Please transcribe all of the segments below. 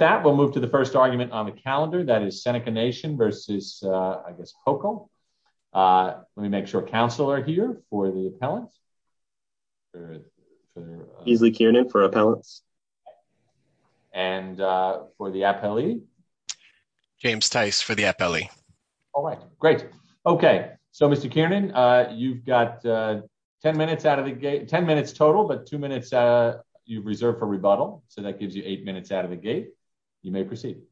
that we'll move to the first argument on the calendar that is Seneca Nation v. I guess Cuomo. Let me make sure council are here for the appellant. Easley Kiernan for appellants. And for the appellee. James Tice for the appellee. All right, great. Okay, so Mr. Kiernan, you've got 10 minutes out of the gate, 10 minutes total but two minutes you've reserved for rebuttal. So that gives you eight minutes out of the gate. You may proceed.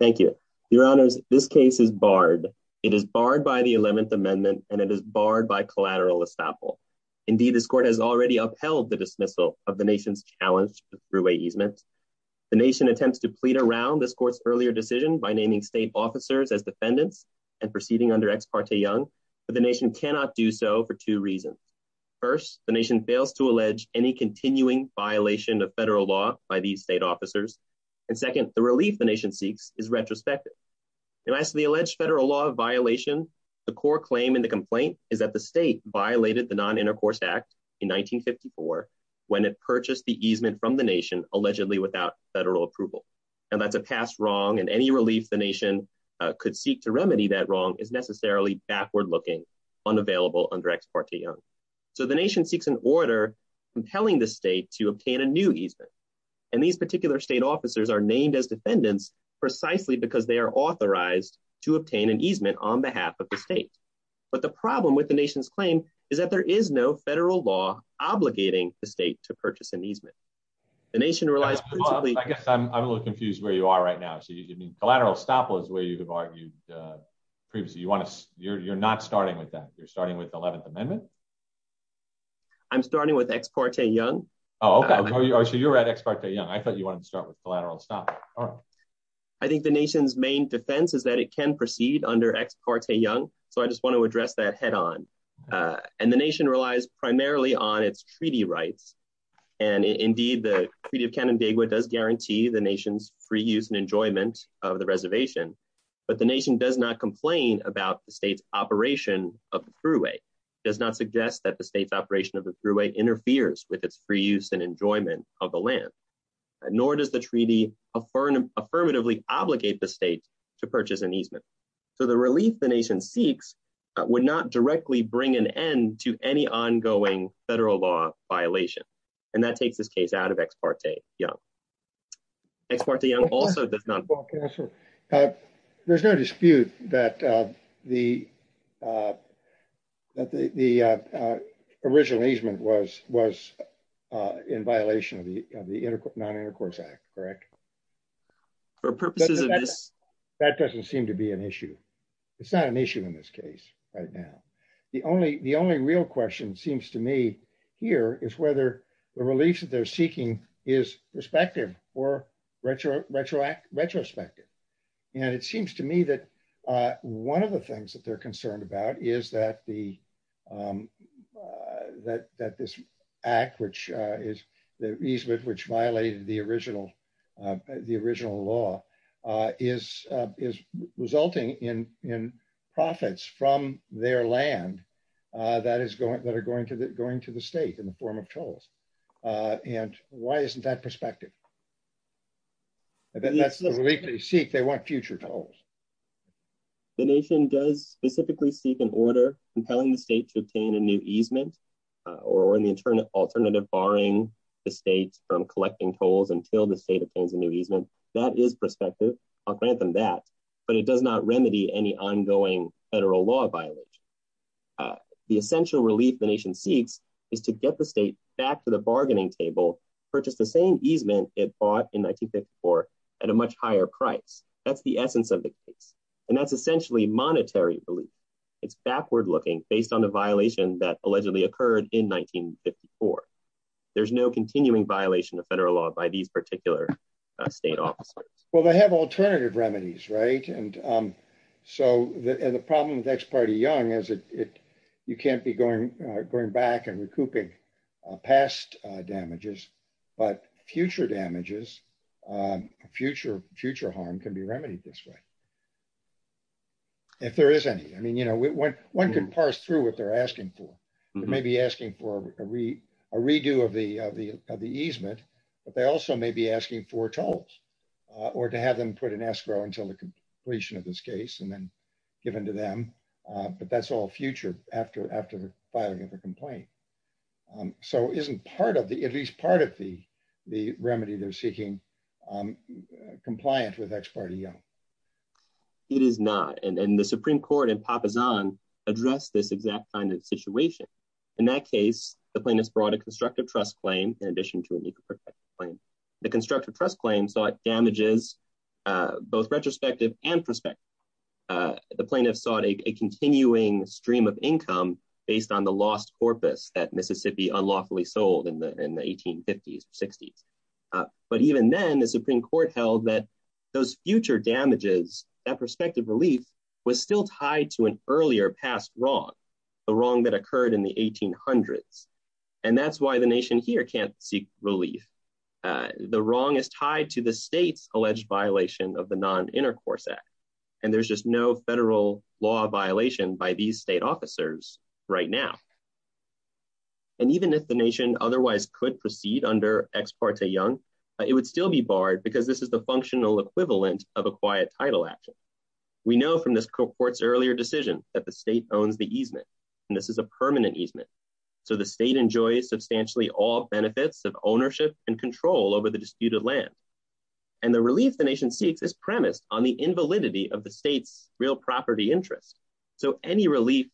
Thank you, Your Honors, this case is barred. It is barred by the 11th amendment, and it is barred by collateral estoppel. Indeed, this court has already upheld the dismissal of the nation's challenge through a easement. The nation attempts to plead around this court's earlier decision by naming state officers as defendants and proceeding under ex parte young, but the nation cannot do so for two reasons. First, the nation fails to allege any continuing violation of federal law by these state officers. And second, the relief the nation seeks is retrospective. And as the alleged federal law violation, the core claim in the complaint is that the state violated the non intercourse act in 1954, when it purchased the easement from the nation allegedly without federal approval. And that's a past wrong and any relief the nation could seek to remedy that wrong is necessarily backward looking, unavailable under ex parte young. So the nation seeks an order compelling the state to obtain a new easement. And these particular state officers are named as defendants, precisely because they are authorized to obtain an easement on behalf of the state. But the problem with the nation's claim is that there is no federal law obligating the state to purchase an easement. The nation relies, I guess I'm a little confused where you are right now. So you mean collateral estoppel is where you have argued previously you want to you're not starting with that you're starting with the 11th amendment. I'm starting with ex parte young. Oh, okay. So you're at ex parte young. I thought you wanted to start with collateral estoppel. All right. I think the nation's main defense is that it can proceed under ex parte young. So I just want to address that head on. And the nation relies primarily on its treaty rights. And indeed, the Treaty of but the nation does not complain about the state's operation of the thruway does not suggest that the state's operation of the thruway interferes with its free use and enjoyment of the land. Nor does the treaty of foreign affirmatively obligate the state to purchase an easement. So the relief the nation seeks would not directly bring an end to any ongoing federal law violation. And that takes this case out of ex parte young. Ex parte young also does not. There's no dispute that the original easement was in violation of the non intercourse act, correct? For purposes of this? That doesn't seem to be an issue. It's not an issue in this case right now. The only real question seems to me here is whether the relief that they're seeking is perspective or retroact retrospective. And it seems to me that one of the things that they're concerned about is that the that that this act which is the easement which violated the original the original law is is resulting in in profits from their land that is going that are going to the state in the form of tolls. And why isn't that perspective? That's the relief they seek. They want future tolls. The nation does specifically seek an order compelling the state to obtain a new easement or in the alternative barring the state from collecting tolls until the state obtains a new easement. That is perspective. I'll grant them that. But it does not remedy any ongoing federal law violation. The essential relief the nation seeks is to get the state back to the bargaining table purchase the same easement it bought in 1954 at a much higher price. That's the essence of the case. And that's essentially monetary relief. It's backward looking based on the violation that allegedly occurred in 1954. There's no continuing violation of federal law by these particular state officers. Well, they have alternative remedies, right? And so the problem with ex parte young is it you can't be going going back and recouping past damages, but future damages, future future harm can be remedied this way. If there is any, I mean, you know, when one can parse through what they're asking for, they may be asking for a read a redo of the of the of the easement. But they also may be asking for tolls or to have them put an escrow until the completion of this case and then given to them. But that's all future after after filing a complaint. So isn't part of the at least part of the the remedy they're seeking compliant with ex parte young. It is not and the Supreme Court and Papa's on address this exact kind of situation. In that case, the plaintiffs brought a constructive trust claim in addition to a new claim. The constructive trust claim sought damages, both retrospective and prospective. The plaintiffs sought a continuing stream of income based on the lost corpus that Mississippi unlawfully sold in the 1850s 60s. But even then the Supreme Court held that those future damages that prospective relief was still tied to an earlier past wrong, the wrong that occurred in the 1800s. And that's why the nation here can't seek relief. The wrong is tied to the state's alleged violation of the Non Intercourse Act. And there's just no federal law violation by these state officers right now. And even if the nation otherwise could proceed under ex parte young, it would still be barred because this is the decision that the state owns the easement. And this is a permanent easement. So the state enjoys substantially all benefits of ownership and control over the disputed land. And the relief the nation seeks is premised on the invalidity of the state's real property interest. So any relief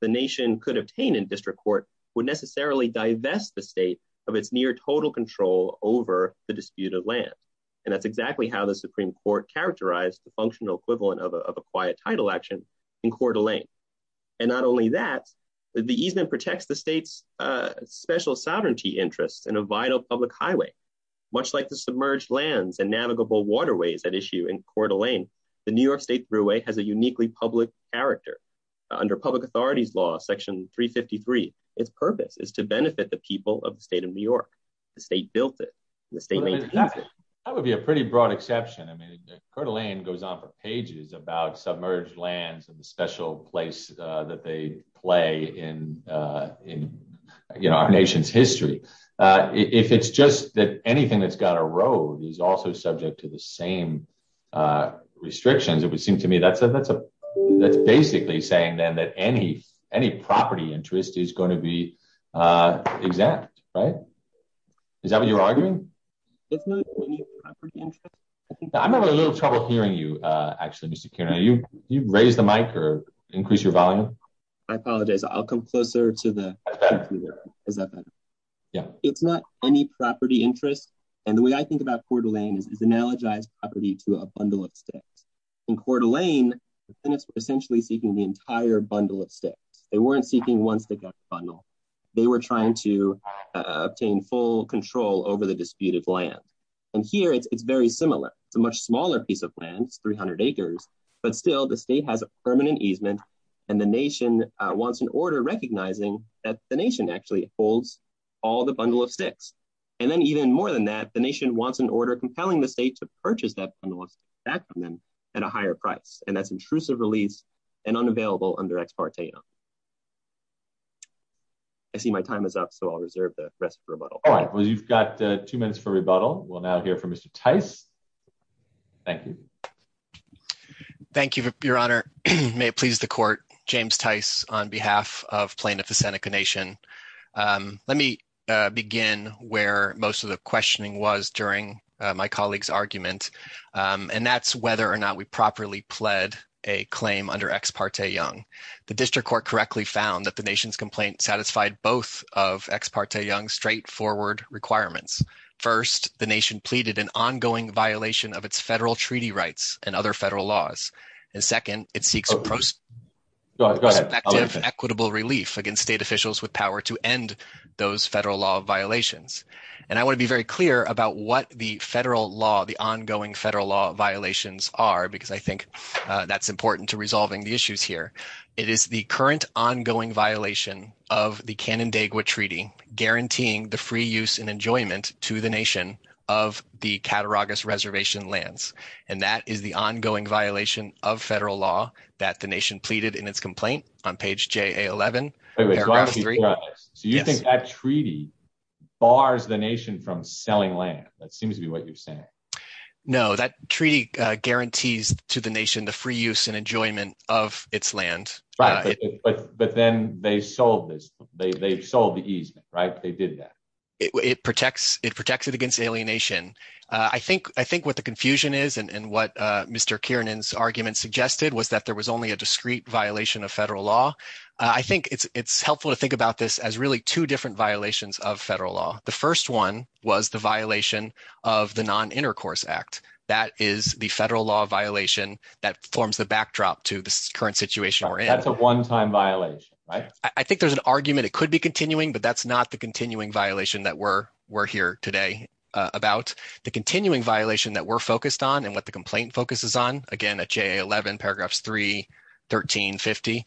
the nation could obtain in district court would necessarily divest the state of its near total control over the disputed land. And that's exactly how the Supreme Court characterized the functional equivalent of a quiet title action in Coeur d'Alene. And not only that, the easement protects the state's special sovereignty interests in a vital public highway, much like the submerged lands and navigable waterways at issue in Coeur d'Alene. The New York State Brewery has a uniquely public character. Under public authorities law, section 353, its purpose is to benefit the people of the state of New York. The state built it. The state made it. That would be a pretty broad exception. I mean, Coeur d'Alene goes on for pages about submerged lands and the special place that they play in, you know, our nation's history. If it's just that anything that's got a road is also subject to the same restrictions, it would seem to me that's basically saying then that any property interest is going to be exempt, right? Is that what you're arguing? It's not any property interest. I'm having a little trouble hearing you actually, Mr. Kuehner. You raise the mic or increase your volume. I apologize. I'll come closer to the microphone. Is that better? Yeah. It's not any property interest. And the way I think about Coeur d'Alene is analogized property to a bundle of sticks. In Coeur d'Alene, the tenants were essentially seeking the entire bundle of sticks. They weren't seeking one stick out of the bundle. They were trying to obtain full control over the disputed land. And here, it's very similar. It's a much smaller piece of land. It's 300 acres. But still, the state has a permanent easement and the nation wants an order recognizing that the nation actually holds all the bundle of sticks. And then even more than that, the nation wants an order compelling the state to purchase that bundle of sticks back from them at a higher price. And that's intrusive release and unavailable under Ex parte Young. I see my time is up, so I'll reserve the rest of rebuttal. All right. Well, you've got two minutes for rebuttal. We'll now hear from Mr. Tice. Thank you. Thank you, Your Honor. May it please the court, James Tice on behalf of plaintiff, the Seneca Nation. Let me begin where most of the questioning was during my colleague's argument. And that's whether or not we properly pled a claim under Ex parte Young. The district court correctly found that the nation's complaint satisfied both of Ex parte Young straightforward requirements. First, the nation pleaded an ongoing violation of its federal treaty rights and other federal laws. And second, it seeks equitable relief against state officials with power to end those federal law violations. And I want to be very clear about what the federal law, the ongoing federal law violations are, because I think that's important to resolving the issues here. It is the current ongoing violation of the Canandaigua Treaty guaranteeing the free use and enjoyment to the nation of the Cataraugus Reservation lands. And that is the ongoing violation of federal law that the nation pleaded in its complaint on page J.A.11. So you think that treaty bars the nation from selling land? That seems to be what you're saying. No, that treaty guarantees to the nation the free use and enjoyment of its land. But then they sold this. They sold the easement, right? They did that. It protects it against alienation. I think what the confusion is and what Mr. Kiernan's argument suggested was that there was only a discrete violation of federal law. I think it's helpful to think about this as really two different violations of federal law. The first one was the Intercourse Act. That is the federal law violation that forms the backdrop to the current situation we're in. That's a one-time violation, right? I think there's an argument it could be continuing, but that's not the continuing violation that we're here today about. The continuing violation that we're focused on and what the complaint focuses on, again at J.A.11, paragraphs 3, 13, 50,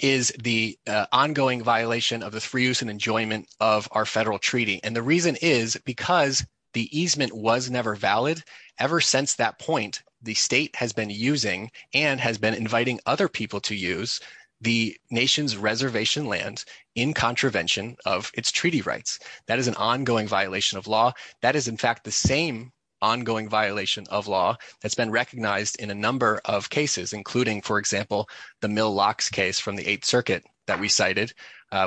is the ongoing violation of the free use and enjoyment of our federal treaty. The reason is because the easement was never valid. Ever since that point, the state has been using and has been inviting other people to use the nation's reservation land in contravention of its treaty rights. That is an ongoing violation of law. That is, in fact, the same ongoing violation of law that's been recognized in a number of cases, including, for example, the Mill Locks case from the Eighth Circuit that we cited,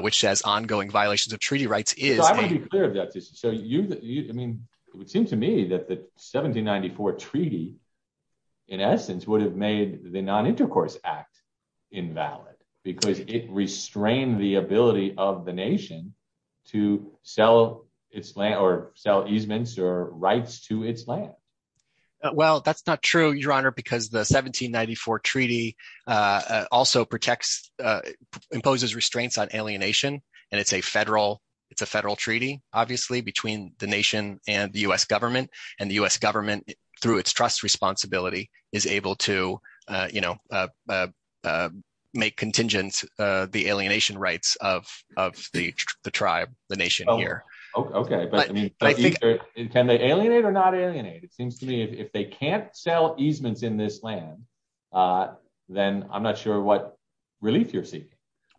which has ongoing violations of treaty rights. I want to be clear about this. It would seem to me that the 1794 Treaty, in essence, would have made the Non-Intercourse Act invalid because it restrained the ability of the nation to sell easements or rights to its land. Well, that's not true, Your Honor, because the 1794 Treaty also imposes restraints on alienation. It's a federal treaty, obviously, between the nation and the U.S. government. The U.S. government, through its trust responsibility, is able to make contingent the alienation rights of the tribe, the nation here. Okay. Can they alienate or not alienate? It seems to me if they can't sell easements in this land, then I'm not sure what relief you're seeking.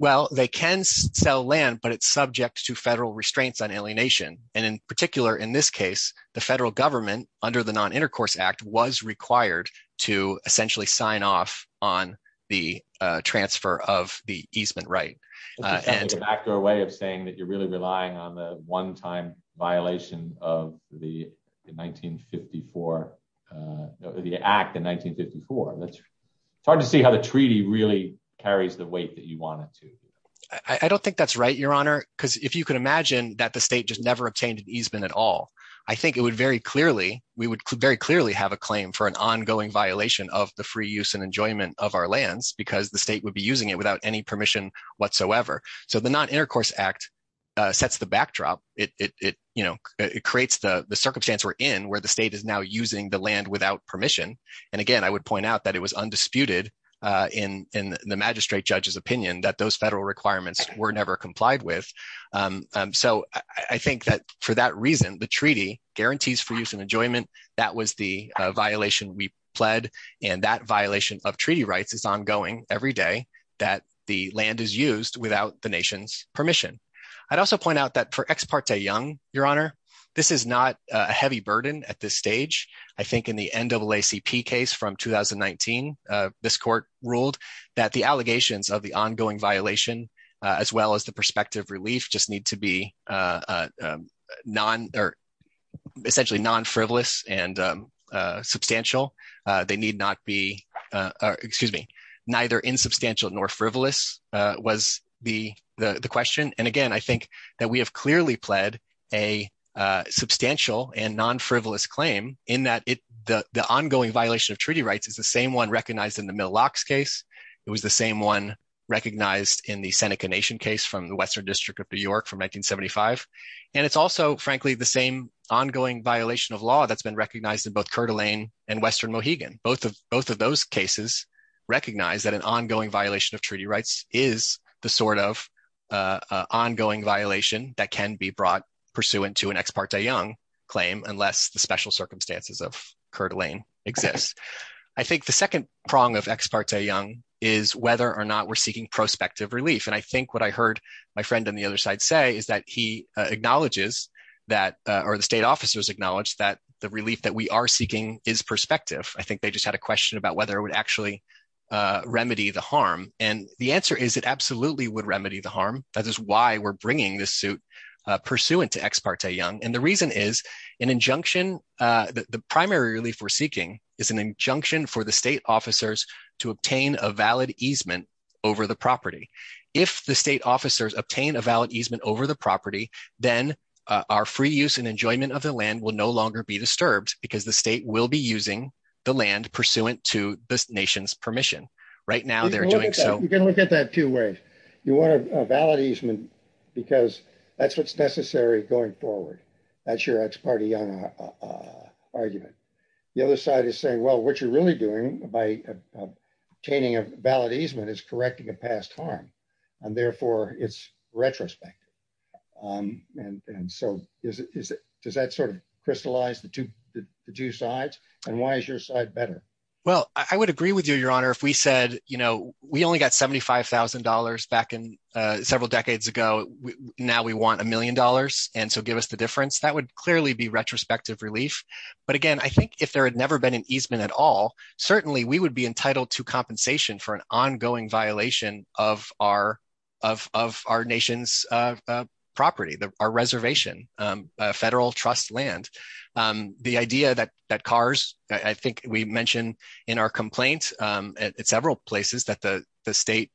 Well, they can sell land, but it's subject to federal restraints on alienation. In particular, in this case, the federal government, under the Non-Intercourse Act, was required to essentially sign off on the transfer of the easement right. An accurate way of saying that you're really relying on the one-time violation of the Act in 1954. It's hard to see how the treaty really carries the weight that you want it to. I don't think that's right, Your Honor, because if you could imagine that the state just never obtained an easement at all, I think we would very clearly have a claim for an ongoing violation of the free use and enjoyment of our lands because the state would be using it without any permission whatsoever. So the Non-Intercourse Act sets the backdrop. It creates the circumstance we're in, where the state is now using the land without permission. And again, I would point out that it was undisputed in the magistrate judge's opinion that those federal requirements were never complied with. So I think that for that reason, the treaty guarantees free use and enjoyment. That was the violation we pled, and that violation of treaty rights is ongoing every that the land is used without the nation's permission. I'd also point out that for Ex Parte Young, Your Honor, this is not a heavy burden at this stage. I think in the NAACP case from 2019, this court ruled that the allegations of the ongoing violation, as well as the perspective relief, just need to be essentially non-frivolous and substantial. They need not be, excuse me, neither insubstantial nor frivolous was the question. And again, I think that we have clearly pled a substantial and non-frivolous claim in that the ongoing violation of treaty rights is the same one recognized in the Millocks case. It was the same one recognized in the Seneca Nation case from the Western District of New York from 1975. And it's also, frankly, the same ongoing violation of law that's been recognized in both Coeur d'Alene and Western Mohegan. Both of those cases recognize that an ongoing violation of treaty rights is the sort of ongoing violation that can be brought pursuant to an Ex Parte Young claim, unless the special circumstances of Coeur d'Alene exist. I think the second prong of Ex Parte Young is whether or not we're seeking prospective relief. And I think what I heard my friend on the other side say is that he acknowledges that, or the state officers acknowledge, that the relief that we are seeking would actually remedy the harm. And the answer is it absolutely would remedy the harm. That is why we're bringing this suit pursuant to Ex Parte Young. And the reason is an injunction, the primary relief we're seeking is an injunction for the state officers to obtain a valid easement over the property. If the state officers obtain a valid easement over the property, then our free use and enjoyment of the land will no longer be disturbed because the state will be using the land pursuant to this nation's permission. Right now, they're doing so. You can look at that two ways. You want a valid easement because that's what's necessary going forward. That's your Ex Parte Young argument. The other side is saying, well, what you're really doing by obtaining a valid easement is correcting a past harm. And therefore, it's retrospective. And so does that sort of crystallize the two sides? And why is your side better? Well, I would agree with you, Your Honor, if we said, you know, we only got $75,000 back in several decades ago. Now we want a million dollars. And so give us the difference. That would clearly be retrospective relief. But again, I think if there had never been an easement at all, certainly we would be entitled to compensation for an ongoing violation of our nation's property, our reservation, federal trust land. The idea that cars, I think we mentioned in our complaint at several places that the state,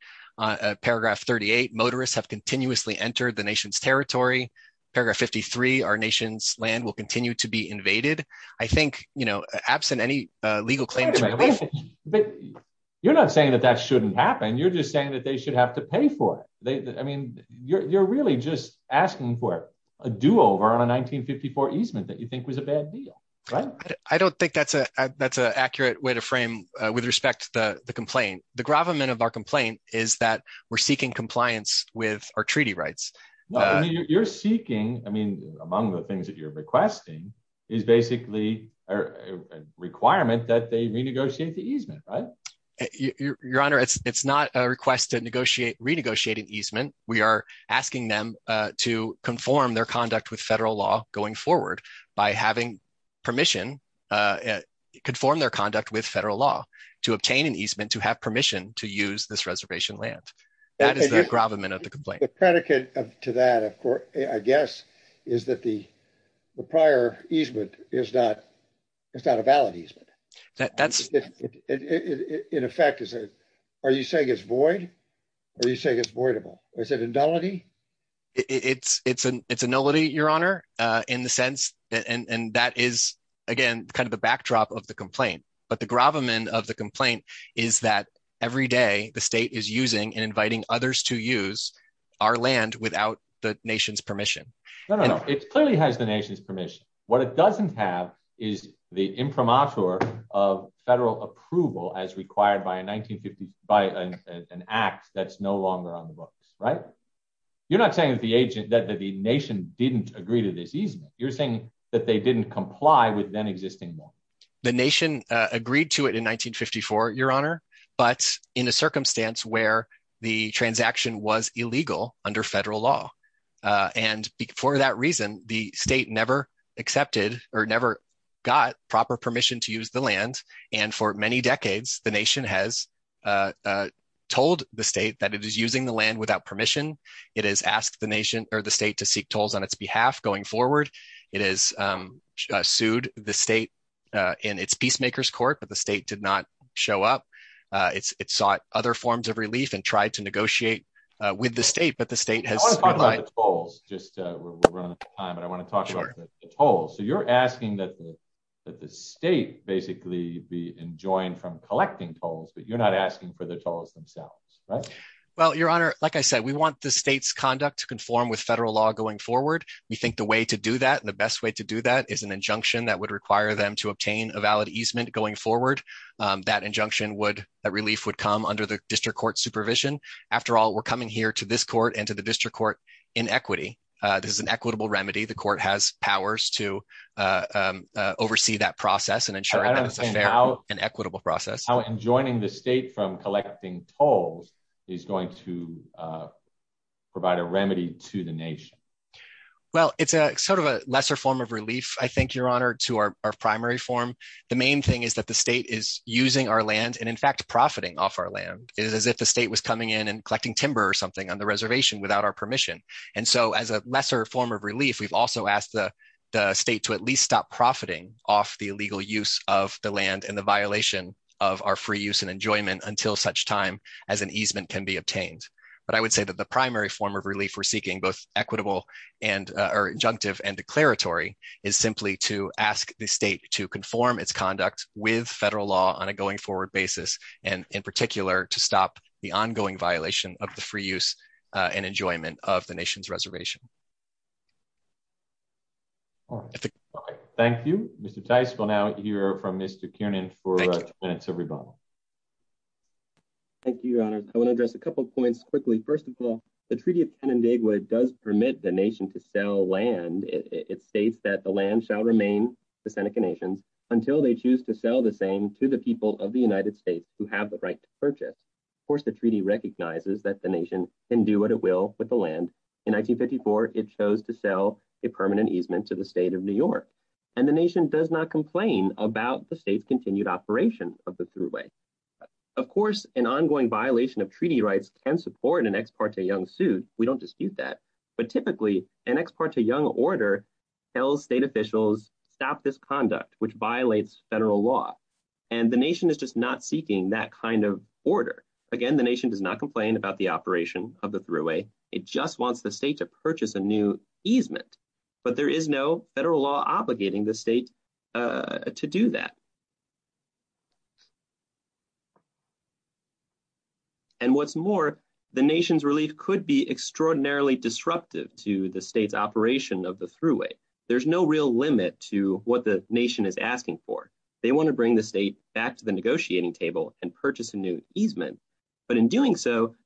paragraph 38, motorists have continuously entered the nation's territory. Paragraph 53, our nation's land will continue to be invaded. I think, you know, absent any legal claim. But you're not saying that that shouldn't happen. You're just saying that they should have to pay for it. I mean, you're really just asking for a do over on a 1954 easement that you think was a bad deal, right? I don't think that's a that's an accurate way to frame with respect to the complaint. The gravamen of our complaint is that we're seeking compliance with our treaty rights. You're seeking, I mean, among the things that you're requesting is basically a requirement that they renegotiate the easement, right? Your Honor, it's not a request to negotiate, renegotiate an easement. We are asking them to conform their conduct with federal law going forward by having permission, conform their conduct with federal law to obtain an easement, to have permission to use this reservation land. That is the gravamen of the complaint. The predicate to that, of course, I guess, is that the prior easement is not, it's not a valid easement. In effect, are you saying it's void? Are you saying it's voidable? Is it a nullity? It's a nullity, Your Honor, in the sense, and that is, again, kind of the backdrop of the complaint. But the gravamen of the complaint is that every day, the state is using and inviting others to use our land without the nation's permission. No, no, no. It clearly has the nation's permission. What it doesn't have is the imprimatur of federal approval as required by an act that's no longer on the books, right? You're not saying that the nation didn't agree to this easement. You're that they didn't comply with then existing law. The nation agreed to it in 1954, Your Honor, but in a circumstance where the transaction was illegal under federal law. And for that reason, the state never accepted or never got proper permission to use the land. And for many decades, the nation has told the state that it is using the land without permission. It has asked the state to seek tolls on its behalf going forward. It has sued the state in its peacemakers court, but the state did not show up. It sought other forms of relief and tried to negotiate with the state, but the state has- I want to talk about the tolls. We're running out of time, but I want to talk about the tolls. So you're asking that the state basically be enjoined from collecting tolls, but you're not asking for the tolls themselves, right? Well, Your Honor, like I said, we want the state's conduct to conform with federal law going forward. We think the way to do that and the best way to do that is an injunction that would require them to obtain a valid easement going forward. That injunction would- that relief would come under the district court supervision. After all, we're coming here to this court and to the district court in equity. This is an equitable remedy. The court has powers to oversee that process and ensure that it's a fair and equitable process. I don't understand how enjoining the state from collecting tolls is going to provide a remedy to the nation. Well, it's sort of a lesser form of relief, I think, Your Honor, to our primary form. The main thing is that the state is using our land and in fact profiting off our land. It is as if the state was coming in and collecting timber or something on the reservation without our permission. And so as a lesser form of relief, we've also asked the state to at least stop profiting off the illegal use of the land and violation of our free use and enjoyment until such time as an easement can be obtained. But I would say that the primary form of relief we're seeking, both equitable and or injunctive and declaratory, is simply to ask the state to conform its conduct with federal law on a going forward basis and in particular to stop the ongoing violation of the free use and enjoyment of the nation's reservation. All right. Thank you, Mr. Tice. We'll now hear from Mr. Kiernan for two minutes of rebuttal. Thank you, Your Honor. I want to address a couple of points quickly. First of all, the Treaty of Canandaigua does permit the nation to sell land. It states that the land shall remain the Seneca Nations until they choose to sell the same to the people of the United States who have the right to purchase. Of course, the treaty recognizes that the nation can do what it will with the land. In 1954, it chose to sell a permanent easement to the state of New York. And the nation does not complain about the state's continued operation of the throughway. Of course, an ongoing violation of treaty rights can support an ex parte young suit. We don't dispute that. But typically, an ex parte young order tells state officials, stop this conduct, which violates federal law. And the nation is just not seeking that kind of about the operation of the throughway. It just wants the state to purchase a new easement. But there is no federal law obligating the state to do that. And what's more, the nation's relief could be extraordinarily disruptive to the state's operation of the throughway. There's no real limit to what the nation is asking for. They want to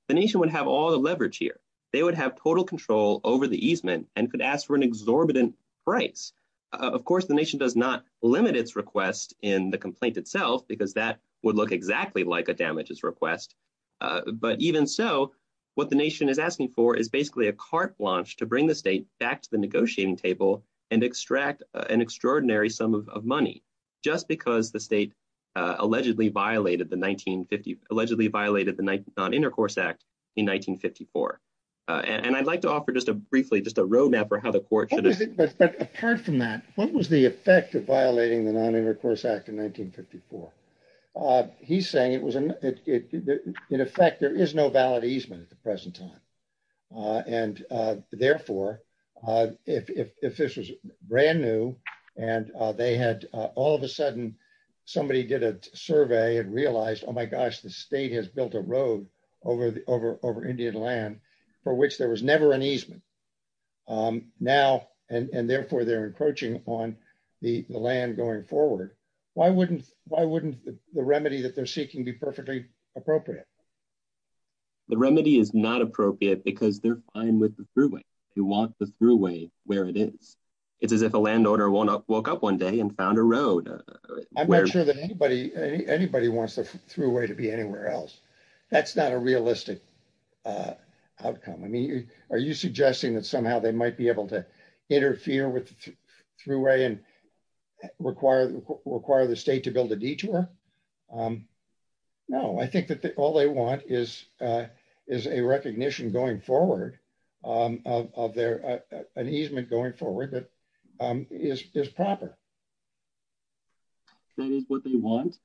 the nation would have all the leverage here. They would have total control over the easement and could ask for an exorbitant price. Of course, the nation does not limit its request in the complaint itself, because that would look exactly like a damages request. But even so, what the nation is asking for is basically a carte blanche to bring the state back to the negotiating table and extract an extraordinary sum of money, just because the state allegedly violated the 1950 act in 1954. And I'd like to offer just a briefly just a roadmap for how the court. But apart from that, what was the effect of violating the non intercourse act in 1954? He's saying it was in effect, there is no valid easement at the present time. And therefore, if this was brand new, and they had all of a sudden, somebody did a survey and realized, oh, my gosh, the state has built a road over the over over Indian land, for which there was never an easement. Now, and therefore, they're encroaching on the land going forward. Why wouldn't? Why wouldn't the remedy that they're seeking be perfectly appropriate? The remedy is not appropriate, because they're fine with the throughway, you want the throughway where it is. It's as if a landowner won't walk up one day and found a road. I'm not sure that anybody, anybody wants to through way to be anywhere else. That's not a realistic outcome. I mean, are you suggesting that somehow they might be able to interfere with through way and require require the state to build a detour? No, I think that all they want is, is a recognition going forward of their an easement going forward that is proper. That is what they want.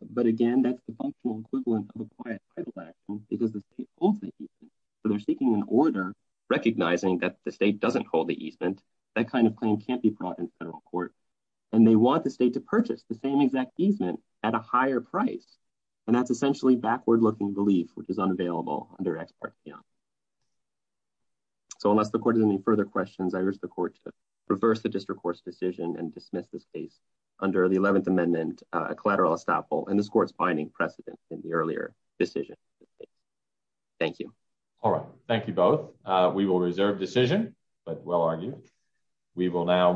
But again, that's the functional equivalent of a quiet title action, because the state holds the easement. So they're seeking an order, recognizing that the state doesn't hold the easement, that kind of claim can't be brought in federal court. And they want the state to purchase the same exact easement at a higher price. And that's essentially backward looking belief, which is unavailable under ex parte. So unless the court has any further questions, I wish the court to reverse the district court's decision and dismiss this case under the 11th amendment collateral estoppel in this court's binding precedent in the earlier decision. Thank you. All right. Thank you both. We will reserve decision, but well argued. We will now